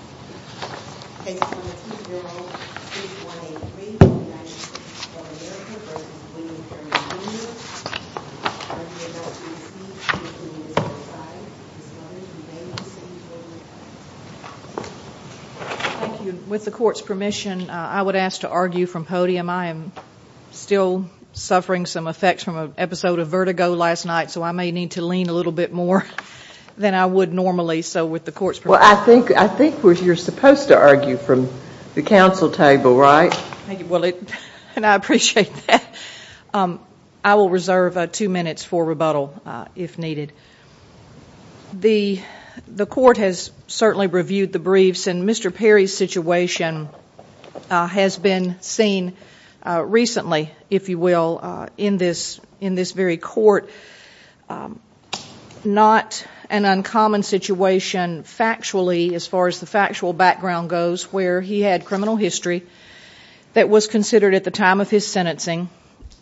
Thank you. With the court's permission, I would ask to argue from podium. I am still suffering some effects from an episode of vertigo last night, so I may need to lean a little bit more than I would normally. Well, I think you're supposed to argue from the council table, right? Thank you, and I appreciate that. I will reserve two minutes for rebuttal if needed. The court has certainly reviewed the briefs, and Mr. Perry's situation has been seen recently, if you will, in this very court. Not an uncommon situation factually, as far as the factual background goes, where he had criminal history that was considered at the time of his sentencing,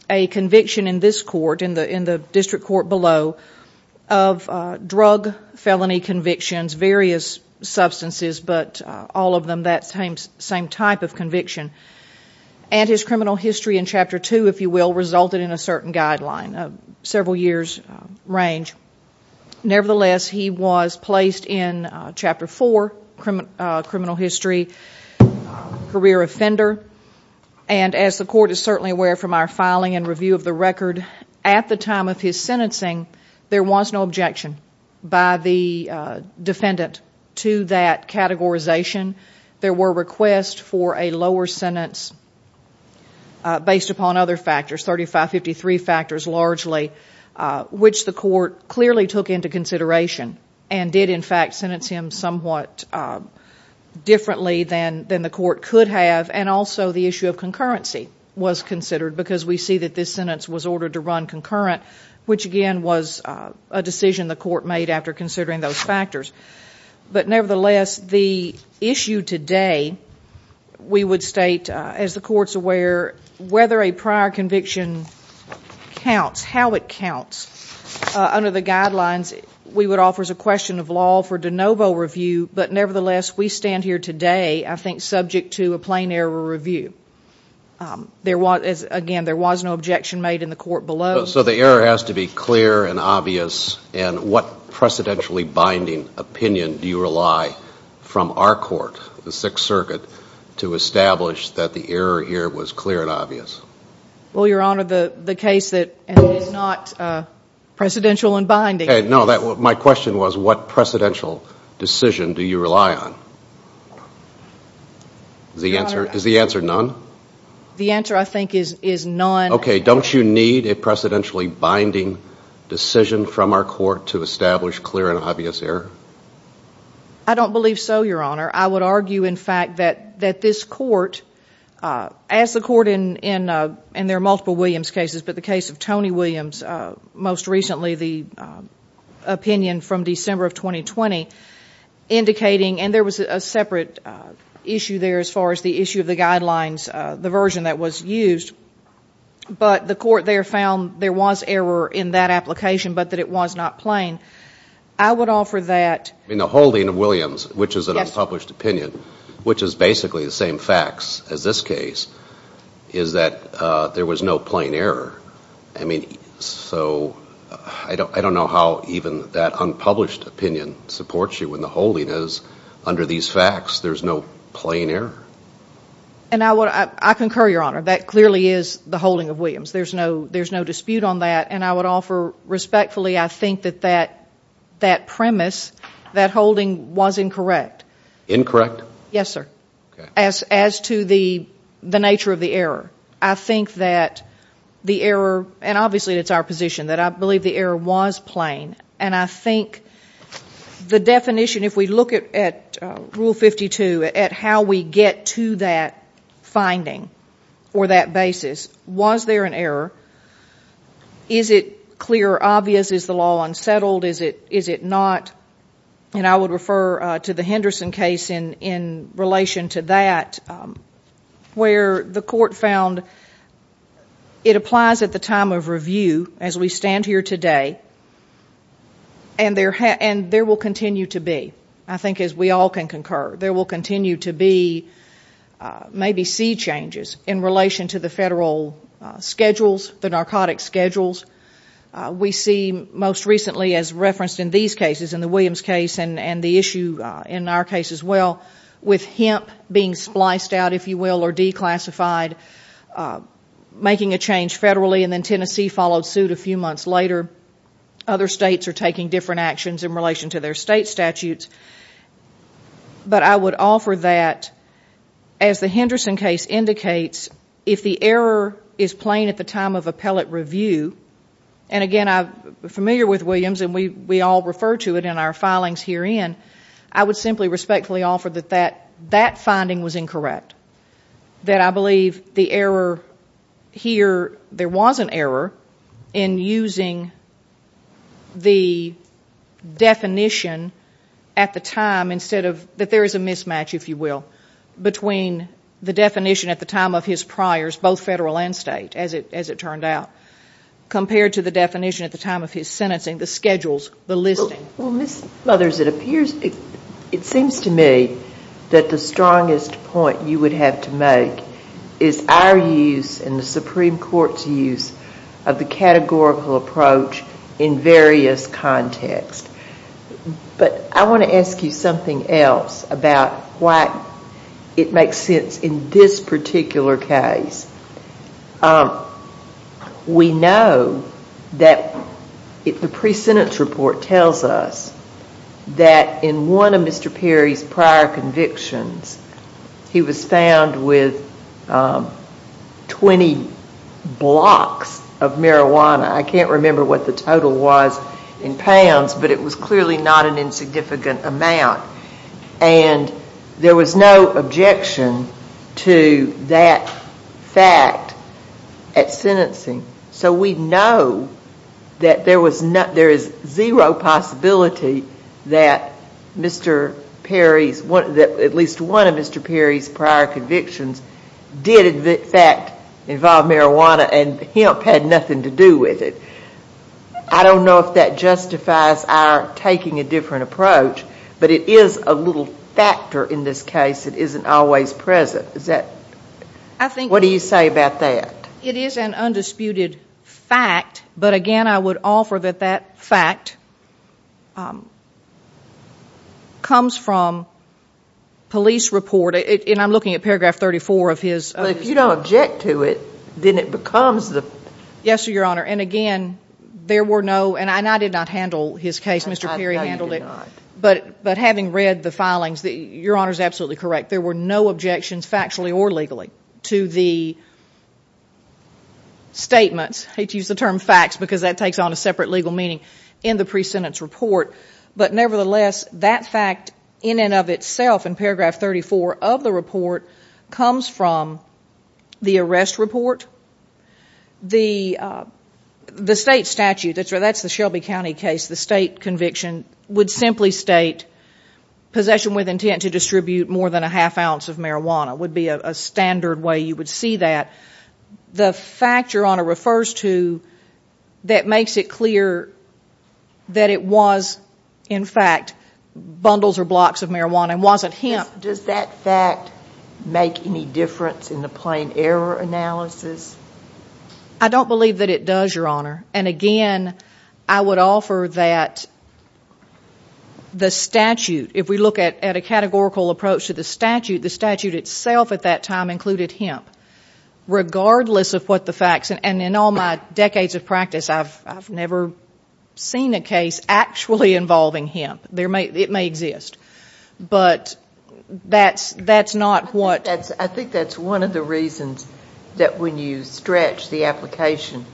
a conviction in this court, in the district court below, of drug felony convictions, various substances, but all of them that same type of conviction. And his criminal history in Chapter 2, if you will, resulted in a certain guideline, a several years' range. Nevertheless, he was placed in Chapter 4, criminal history, career offender. And as the court is certainly aware from our filing and review of the record, at the time of his sentencing, there was no objection by the defendant to that categorization. There were requests for a lower sentence based upon other factors, 3553 factors largely, which the court clearly took into consideration and did, in fact, sentence him somewhat differently than the court could have. And also the issue of concurrency was considered, because we see that this sentence was ordered to run concurrent, which again was a decision the court made after considering those factors. But nevertheless, the issue today, we would state, as the court's aware, whether a prior conviction counts, how it counts, under the guidelines, we would offer as a question of law for de novo review. But nevertheless, we stand here today, I think, subject to a plain error review. There was, again, there was no objection made in the court below. So the error has to be clear and obvious, and what precedentially binding opinion do you rely, from our court, the Sixth Circuit, to establish that the error here was clear and obvious? Well, Your Honor, the case that, and it is not precedential and binding. No, my question was, what precedential decision do you rely on? Is the answer none? The answer, I think, is none. Okay, don't you need a precedentially binding decision from our court to establish clear and obvious error? I don't believe so, Your Honor. I would argue, in fact, that this court, as the court in, and there are multiple Williams cases, but the case of Tony Williams, most recently the opinion from December of 2020, indicating, and there was a separate issue there as far as the issue of the guidelines, the version that was used, but the court there found there was error in that application, but that it was not plain. I would offer that. I mean, the holding of Williams, which is an unpublished opinion, which is basically the same facts as this case, is that there was no plain error. I mean, so I don't know how even that unpublished opinion supports you when the holding is, under these facts, there's no plain error. And I would, I concur, Your Honor, that clearly is the holding of Williams. There's no dispute on that, and I would offer respectfully, I think, that that premise, that holding was incorrect. Incorrect? Yes, sir. Okay. As to the nature of the error. I think that the error, and obviously it's our position, that I believe the error was to get to that finding, or that basis. Was there an error? Is it clear or obvious, is the law unsettled, is it not? And I would refer to the Henderson case in relation to that, where the court found it applies at the time of review, as we stand here today, and there will continue to be, I think as we all can concur. There will continue to be, maybe, seed changes in relation to the federal schedules, the narcotics schedules. We see, most recently, as referenced in these cases, in the Williams case, and the issue in our case as well, with hemp being spliced out, if you will, or declassified, making a change federally, and then Tennessee followed suit a few months later. Other states are taking different actions in relation to their state statutes. But I would offer that, as the Henderson case indicates, if the error is plain at the time of appellate review, and again, I'm familiar with Williams, and we all refer to it in our filings herein, I would simply respectfully offer that that finding was incorrect. That I believe the error here, there was an error in using the definition at the time, instead of, that there is a mismatch, if you will, between the definition at the time of his priors, both federal and state, as it turned out, compared to the definition at the time of his sentencing, the schedules, the listing. Well, Ms. Mothers, it seems to me that the strongest point you would have to make is our use, and the Supreme Court's use, of the categorical approach in various contexts. But I want to ask you something else about why it makes sense in this particular case. We know that the pre-sentence report tells us that in one of Mr. Perry's prior convictions, he was found with 20 blocks of marijuana. I can't remember what the total was in pounds, but it was clearly not an insignificant amount. And there was no objection to that fact at sentencing. So we know that there is zero possibility that Mr. Perry's, at least one of Mr. Perry's prior convictions, did in fact involve marijuana, and Hemp had nothing to do with it. I don't know if that justifies our taking a different approach, but it is a little factor in this case that isn't always present. What do you say about that? It is an undisputed fact, but again, I would offer that that fact comes from police report, and I'm looking at paragraph 34 of his. Well, if you don't object to it, then it becomes the... Yes, Your Honor. And again, there were no, and I did not handle his case, Mr. Perry handled it, but having read the filings, Your Honor's absolutely correct. There were no objections factually or legally to the statements, hate to use the term facts because that takes on a separate legal meaning, in the pre-sentence report. But nevertheless, that fact in and of itself in paragraph 34 of the report comes from the The state statute, that's the Shelby County case, the state conviction would simply state possession with intent to distribute more than a half ounce of marijuana would be a standard way you would see that. The fact Your Honor refers to that makes it clear that it was in fact bundles or blocks of marijuana and wasn't Hemp. Does that fact make any difference in the plain error analysis? I don't believe that it does, Your Honor. And again, I would offer that the statute, if we look at a categorical approach to the statute, the statute itself at that time included Hemp, regardless of what the facts, and in all my decades of practice, I've never seen a case actually involving Hemp. It may exist, but that's not what... I think that's one of the reasons that when you stretch the application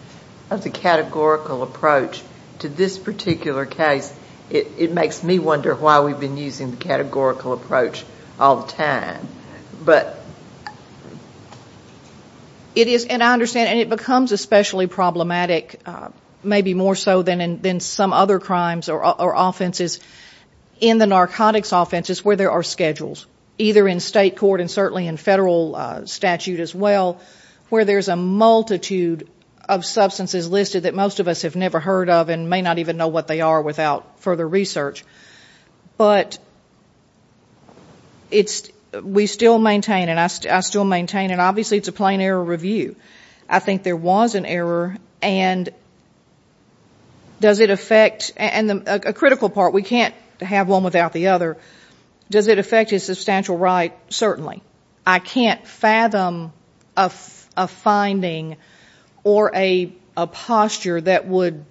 of the categorical approach to this particular case, it makes me wonder why we've been using the categorical approach all the time. But... It is, and I understand, and it becomes especially problematic, maybe more so than some other crimes or offenses, in the narcotics offenses where there are schedules, either in state or in federal statute as well, where there's a multitude of substances listed that most of us have never heard of and may not even know what they are without further research. But it's... We still maintain, and I still maintain, and obviously it's a plain error review. I think there was an error, and does it affect... And a critical part, we can't have one without the other. Does it affect his substantial right? Certainly. I can't fathom a finding or a posture that would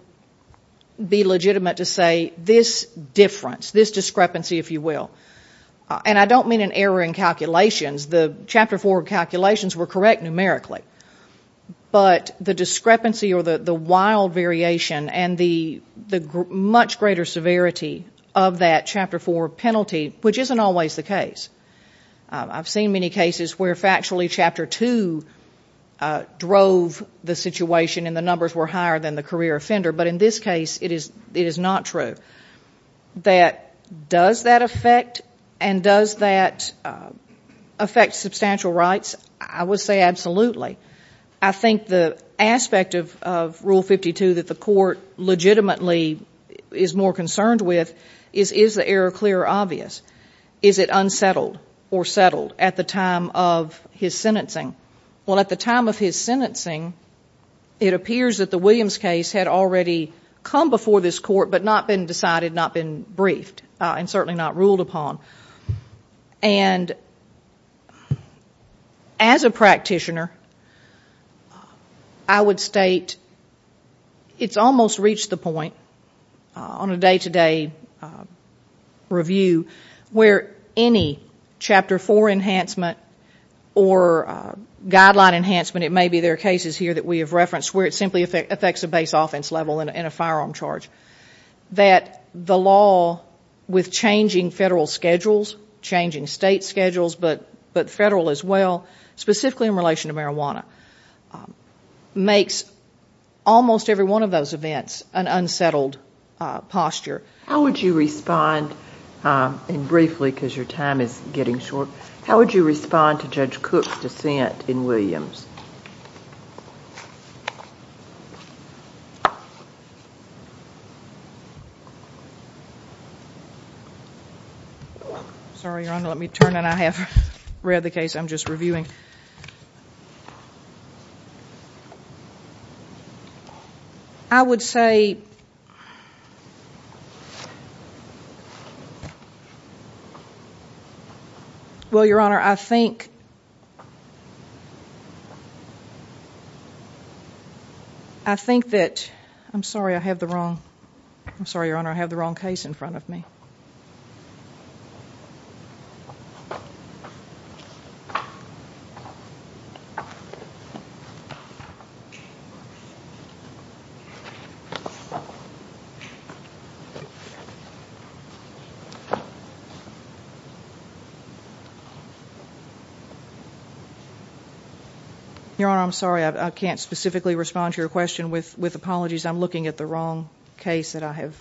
be legitimate to say this difference, this discrepancy, if you will. And I don't mean an error in calculations. The Chapter 4 calculations were correct numerically. But the discrepancy or the wild variation and the much greater severity of that Chapter 4 penalty, which isn't always the case. I've seen many cases where factually Chapter 2 drove the situation and the numbers were higher than the career offender. But in this case, it is not true. Does that affect and does that affect substantial rights? I would say absolutely. I think the aspect of Rule 52 that the court legitimately is more concerned with is, is error clear or obvious? Is it unsettled or settled at the time of his sentencing? Well, at the time of his sentencing, it appears that the Williams case had already come before this court but not been decided, not been briefed, and certainly not ruled upon. And, as a practitioner, I would state it's almost reached the point on a day-to-day review where any Chapter 4 enhancement or guideline enhancement, it may be there are cases here that we have referenced where it simply affects a base offense level and a firearm charge, that the law with changing federal schedules, changing state schedules, but federal as well, specifically in relation to marijuana, makes almost every one of those events an unsettled posture. How would you respond, and briefly because your time is getting short, how would you respond to Judge Cook's dissent in Williams? Sorry, Your Honor, let me turn and I have read the case I'm just reviewing. I would say, well, Your Honor, I think, I think that, I'm sorry, I have the wrong, I'm sorry, Your Honor, I have the wrong case in front of me. Your Honor, I'm sorry, I can't specifically respond to your question with apologies. I'm looking at the wrong case that I have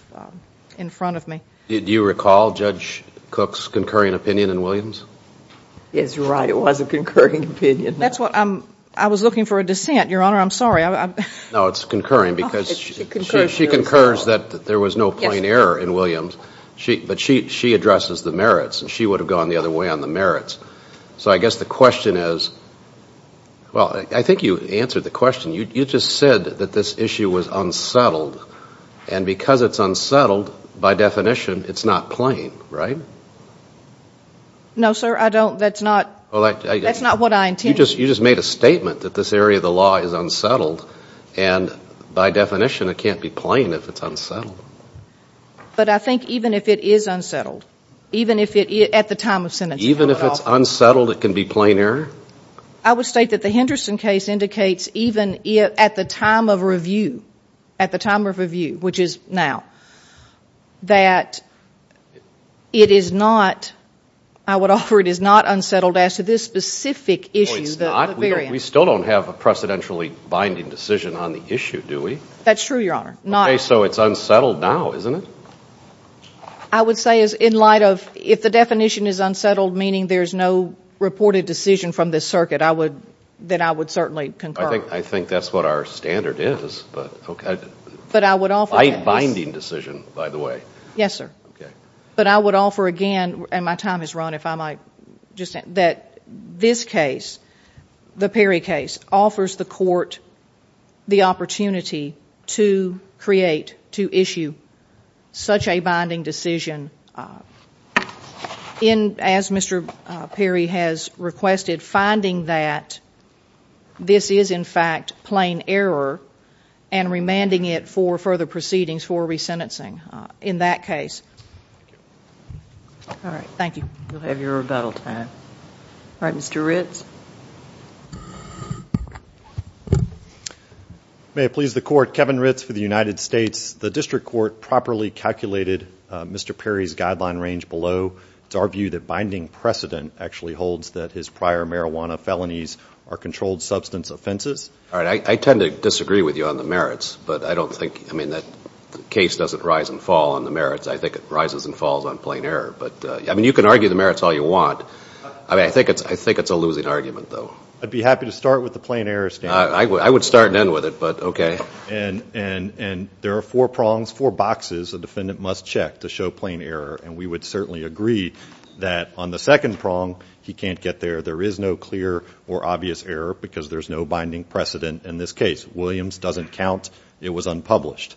in front of me. Do you recall Judge Cook's concurring opinion in Williams? It's right, it was a concurring opinion. That's what I'm, I was looking for a dissent, Your Honor, I'm sorry. No, it's concurring because she concurs that there was no point error in Williams, but she addresses the merits and she would have gone the other way on the merits. So, I guess the question is, well, I think you answered the question. You just said that this issue was unsettled and because it's unsettled, by definition, it's not plain, right? No, sir, I don't, that's not, that's not what I intended. You just made a statement that this area of the law is unsettled and by definition it can't be plain if it's unsettled. But I think even if it is unsettled, even if it, at the time of sentencing. Even if it's unsettled, it can be plain error? I would state that the Henderson case indicates even if, at the time of review, at the time of review, which is now, that it is not, I would offer it is not unsettled as to this specific issue, the variant. We still don't have a precedentially binding decision on the issue, do we? That's true, Your Honor. Okay, so it's unsettled now, isn't it? I would say in light of, if the definition is unsettled, meaning there's no reported decision from this circuit, I would, that I would certainly concur. I think that's what our standard is, but, okay. But I would offer that. Binding decision, by the way. Yes, sir. Okay. But I would offer again, and my time is run, if I might just, that this case, the Perry case, offers the court the opportunity to create, to issue such a binding decision in, as Mr. Perry has requested, finding that this is, in fact, plain error and remanding it for further proceedings for resentencing in that case. All right, thank you. We'll have your rebuttal time. All right, Mr. Ritz. May it please the court, Kevin Ritz for the United States. The district court properly calculated Mr. Perry's guideline range below to argue that binding precedent actually holds that his prior marijuana felonies are controlled substance offenses. All right, I tend to disagree with you on the merits, but I don't think, I mean, that the case doesn't rise and fall on the merits. I think it rises and falls on plain error. But, I mean, you can argue the merits all you want. I mean, I think it's a losing argument, though. I'd be happy to start with the plain error standard. I would start and end with it, but okay. And there are four prongs, four boxes a defendant must check to show plain error. And we would certainly agree that on the second prong, he can't get there. There is no clear or obvious error because there's no binding precedent in this case. Williams doesn't count. It was unpublished.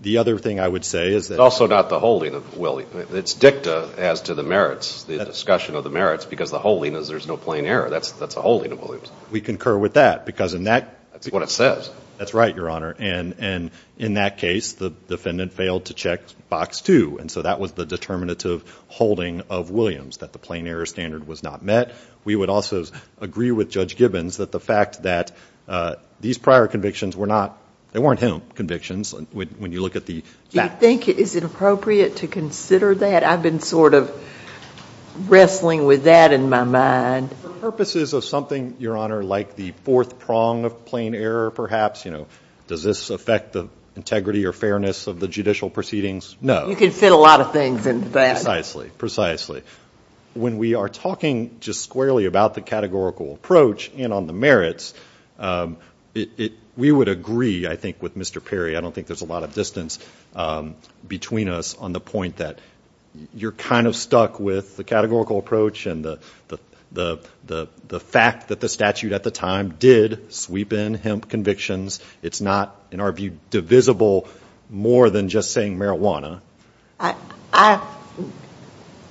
The other thing I would say is that. It's also not the holding of Williams. It's dicta as to the merits, the discussion of the merits, because the holding is there's no plain error. That's the holding of Williams. We concur with that because in that. That's what it says. That's right, Your Honor. And in that case, the defendant failed to check box two. And so that was the determinative holding of Williams, that the plain error standard was not met. We would also agree with Judge Gibbons that the fact that these prior convictions were not, they weren't him convictions when you look at the facts. I think it is inappropriate to consider that. I've been sort of wrestling with that in my mind. For purposes of something, Your Honor, like the fourth prong of plain error, perhaps, does this affect the integrity or fairness of the judicial proceedings? No. You can fit a lot of things into that. Precisely. When we are talking just squarely about the categorical approach and on the merits, we would agree, I think, with Mr. Perry. I don't think there's a lot of distance between us on the point that you're kind of stuck with the categorical approach and the fact that the statute at the time did sweep in hemp convictions. It's not, in our view, divisible more than just saying marijuana. I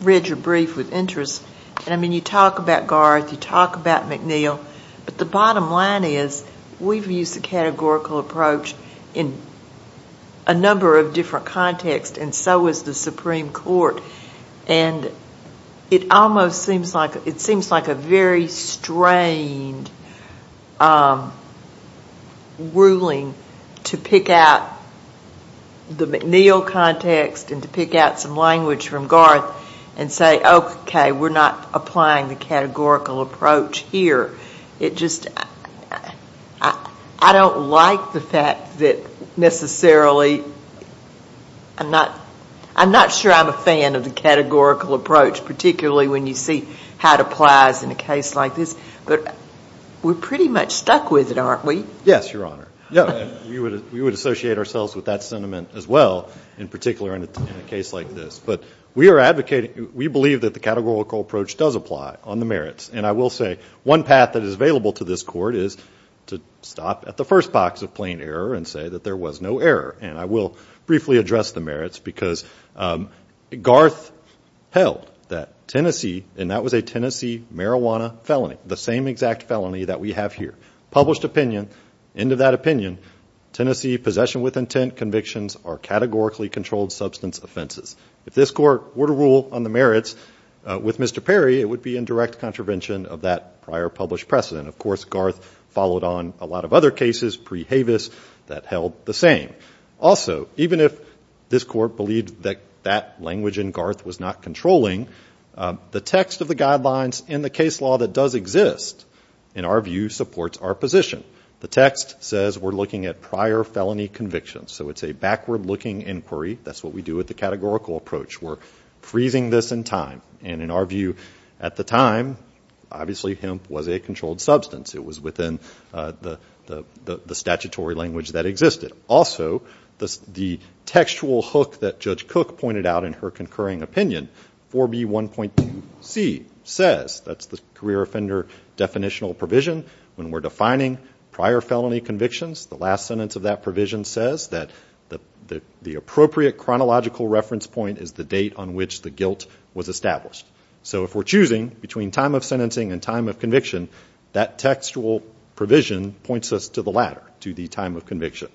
read your brief with interest. And I mean, you talk about Garth. You talk about McNeil. But the bottom line is, we've used the categorical approach in a number of different contexts. And so has the Supreme Court. And it almost seems like a very strained ruling to pick out the McNeil context and to pick out some language from Garth and say, OK, we're not applying the categorical approach here. It just, I don't like the fact that necessarily, I'm not sure I'm a fan of the categorical approach, particularly when you see how it applies in a case like this, but we're pretty much stuck with it, aren't we? Yes, Your Honor. We would associate ourselves with that sentiment as well, in particular in a case like this. But we are advocating, we believe that the categorical approach does apply on the merits. And I will say, one path that is available to this court is to stop at the first box of plain error and say that there was no error. And I will briefly address the merits, because Garth held that Tennessee, and that was a Tennessee marijuana felony, the same exact felony that we have here, published opinion, end of that opinion, Tennessee possession with intent convictions are categorically controlled substance offenses. If this court were to rule on the merits with Mr. Perry, it would be in direct contravention of that prior published precedent. Of course, Garth followed on a lot of other cases pre-Havis that held the same. Also, even if this court believed that that language in Garth was not controlling, the text of the guidelines in the case law that does exist, in our view, supports our position. The text says we're looking at prior felony convictions. So it's a backward looking inquiry. That's what we do with the categorical approach. We're freezing this in time. And in our view, at the time, obviously hemp was a controlled substance. It was within the statutory language that existed. Also, the textual hook that Judge Cook pointed out in her concurring opinion, 4B1.2c says, that's the career offender definitional provision, when we're defining prior felony convictions, the last sentence of that provision says that the appropriate chronological reference point is the date on which the guilt was established. So if we're choosing between time of sentencing and time of conviction, that textual provision points us to the latter, to the time of conviction.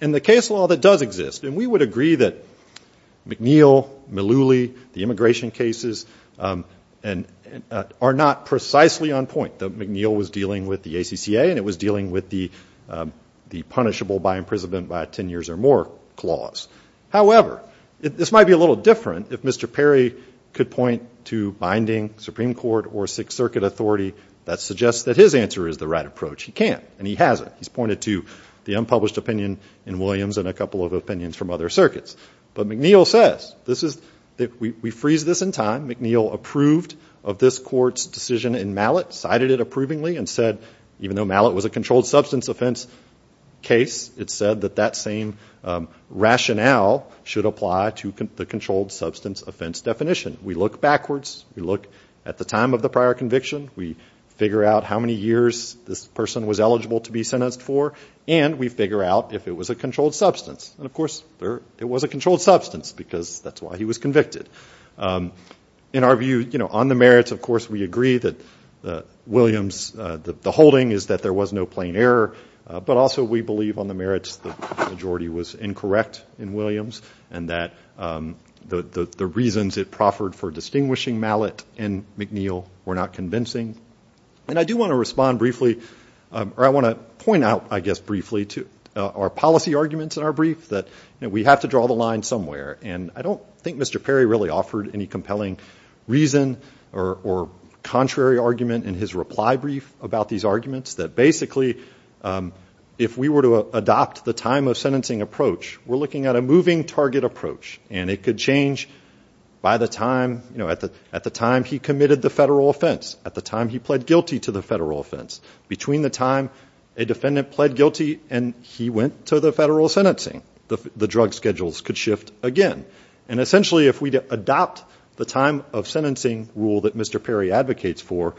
In the case law that does exist, and we would agree that McNeil, Mullooly, the immigration cases are not precisely on point. McNeil was dealing with the ACCA, and it was dealing with the punishable by imprisonment by ten years or more clause. However, this might be a little different if Mr. Perry could point to binding Supreme Court or Sixth Circuit authority that suggests that his answer is the right approach, he can't, and he hasn't. He's pointed to the unpublished opinion in Williams and a couple of opinions from other circuits. But McNeil says, we freeze this in time. McNeil approved of this court's decision in Mallet, cited it approvingly, and said, even though Mallet was a controlled substance offense case, it said that that same rationale should apply to the controlled substance offense definition. We look backwards, we look at the time of the prior conviction, we figure out how many years this person was eligible to be sentenced for, and we figure out if it was a controlled substance. And of course, it was a controlled substance because that's why he was convicted. In our view, on the merits, of course, we agree that Williams, the holding is that there was no plain error, but also we believe on the merits, the majority was incorrect in Williams and that the reasons it proffered for distinguishing Mallet and McNeil were not convincing. And I do want to respond briefly, or I want to point out, I guess, briefly to our policy arguments in our brief that we have to draw the line somewhere. And I don't think Mr. Perry really offered any compelling reason or contrary argument in his reply brief about these arguments. That basically, if we were to adopt the time of sentencing approach, we're looking at a moving target approach. And it could change by the time, at the time he committed the federal offense, at the time he pled guilty to the federal offense. Between the time a defendant pled guilty and he went to the federal sentencing, the drug schedules could shift again. And essentially, if we adopt the time of sentencing rule that Mr. Perry advocates for,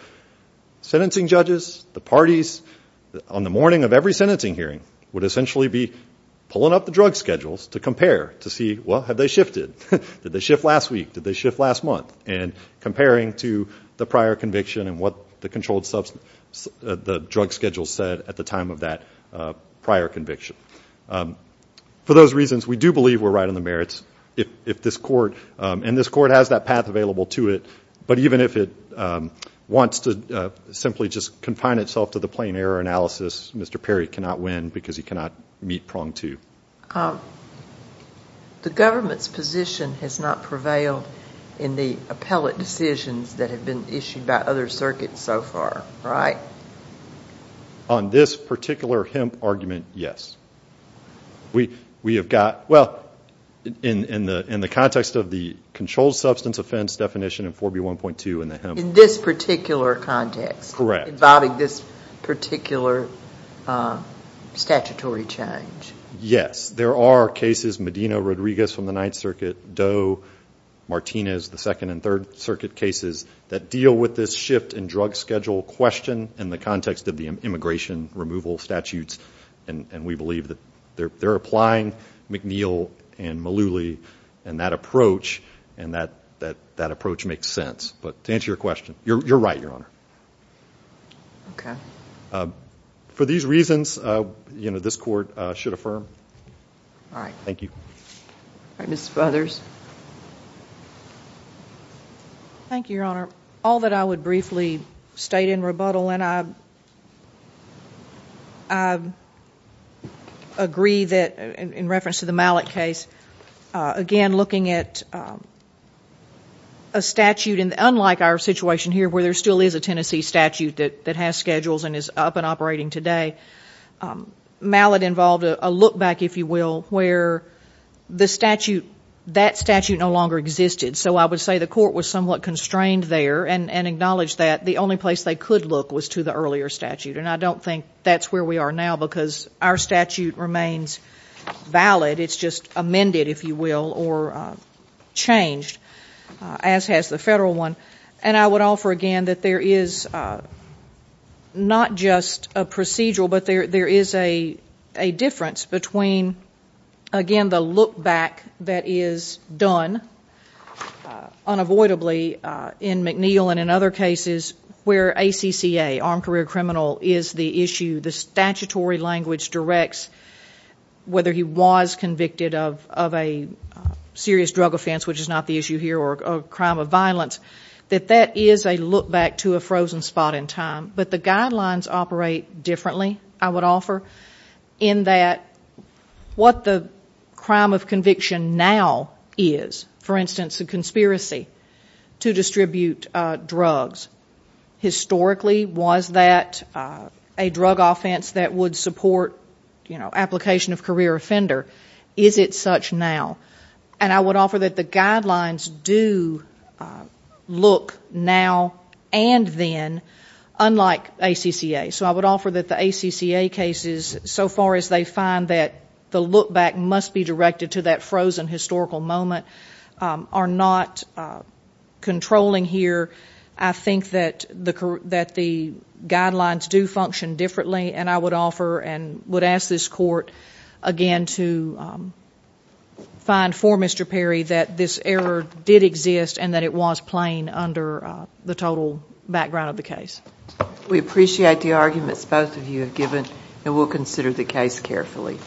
sentencing judges, the parties, on the morning of every sentencing hearing, would essentially be pulling up the drug schedules to compare, to see, well, have they shifted? Did they shift last week? Did they shift last month? And comparing to the prior conviction and what the drug schedule said at the time of that prior conviction. For those reasons, we do believe we're right on the merits if this court, and this court has that path available to it. But even if it wants to simply just confine itself to the plain error analysis, Mr. Perry cannot win because he cannot meet prong two. The government's position has not prevailed in the appellate decisions that have been issued by other circuits so far, right? On this particular hemp argument, yes. We have got, well, in the context of the controlled substance offense definition in 4B1.2 in the hemp- In this particular context. Correct. Involving this particular statutory change. Yes, there are cases, Medina, Rodriguez from the Ninth Circuit, Doe, Martinez, the Second and Third Circuit cases that deal with this shift in drug schedule question in the context of the immigration removal statutes. And we believe that they're applying McNeil and Mullooly, and that approach, and that approach makes sense. But to answer your question, you're right, Your Honor. Okay. For these reasons, this court should affirm. All right. Thank you. All right, Ms. Feathers. Thank you, Your Honor. All that I would briefly state in rebuttal, and I agree that, in reference to the Mallett case, again, looking at a statute, and unlike our situation here, where there still is a Tennessee statute that has schedules and is up and operating today. Mallett involved a look back, if you will, where the statute, that statute no longer existed. So I would say the court was somewhat constrained there, and acknowledged that the only place they could look was to the earlier statute. And I don't think that's where we are now, because our statute remains valid. It's just amended, if you will, or changed, as has the federal one. And I would offer again that there is not just a procedural, but there is a difference between, again, the look back that is done unavoidably in McNeil and in other cases where ACCA, armed career criminal, is the issue, the statutory language directs whether he was convicted of a serious drug offense, which is not the issue here, or a crime of violence. That that is a look back to a frozen spot in time. But the guidelines operate differently, I would offer, in that what the crime of conviction now is. For instance, a conspiracy to distribute drugs. Historically, was that a drug offense that would support application of career offender? Is it such now? And I would offer that the guidelines do look now and then, unlike ACCA. So I would offer that the ACCA cases, so far as they find that the look back must be directed to that frozen historical moment, are not controlling here. I think that the guidelines do function differently. And I would offer and would ask this court again to find for Mr. Perry that this error did exist and that it was plain under the total background of the case. We appreciate the arguments both of you have given, and we'll consider the case carefully.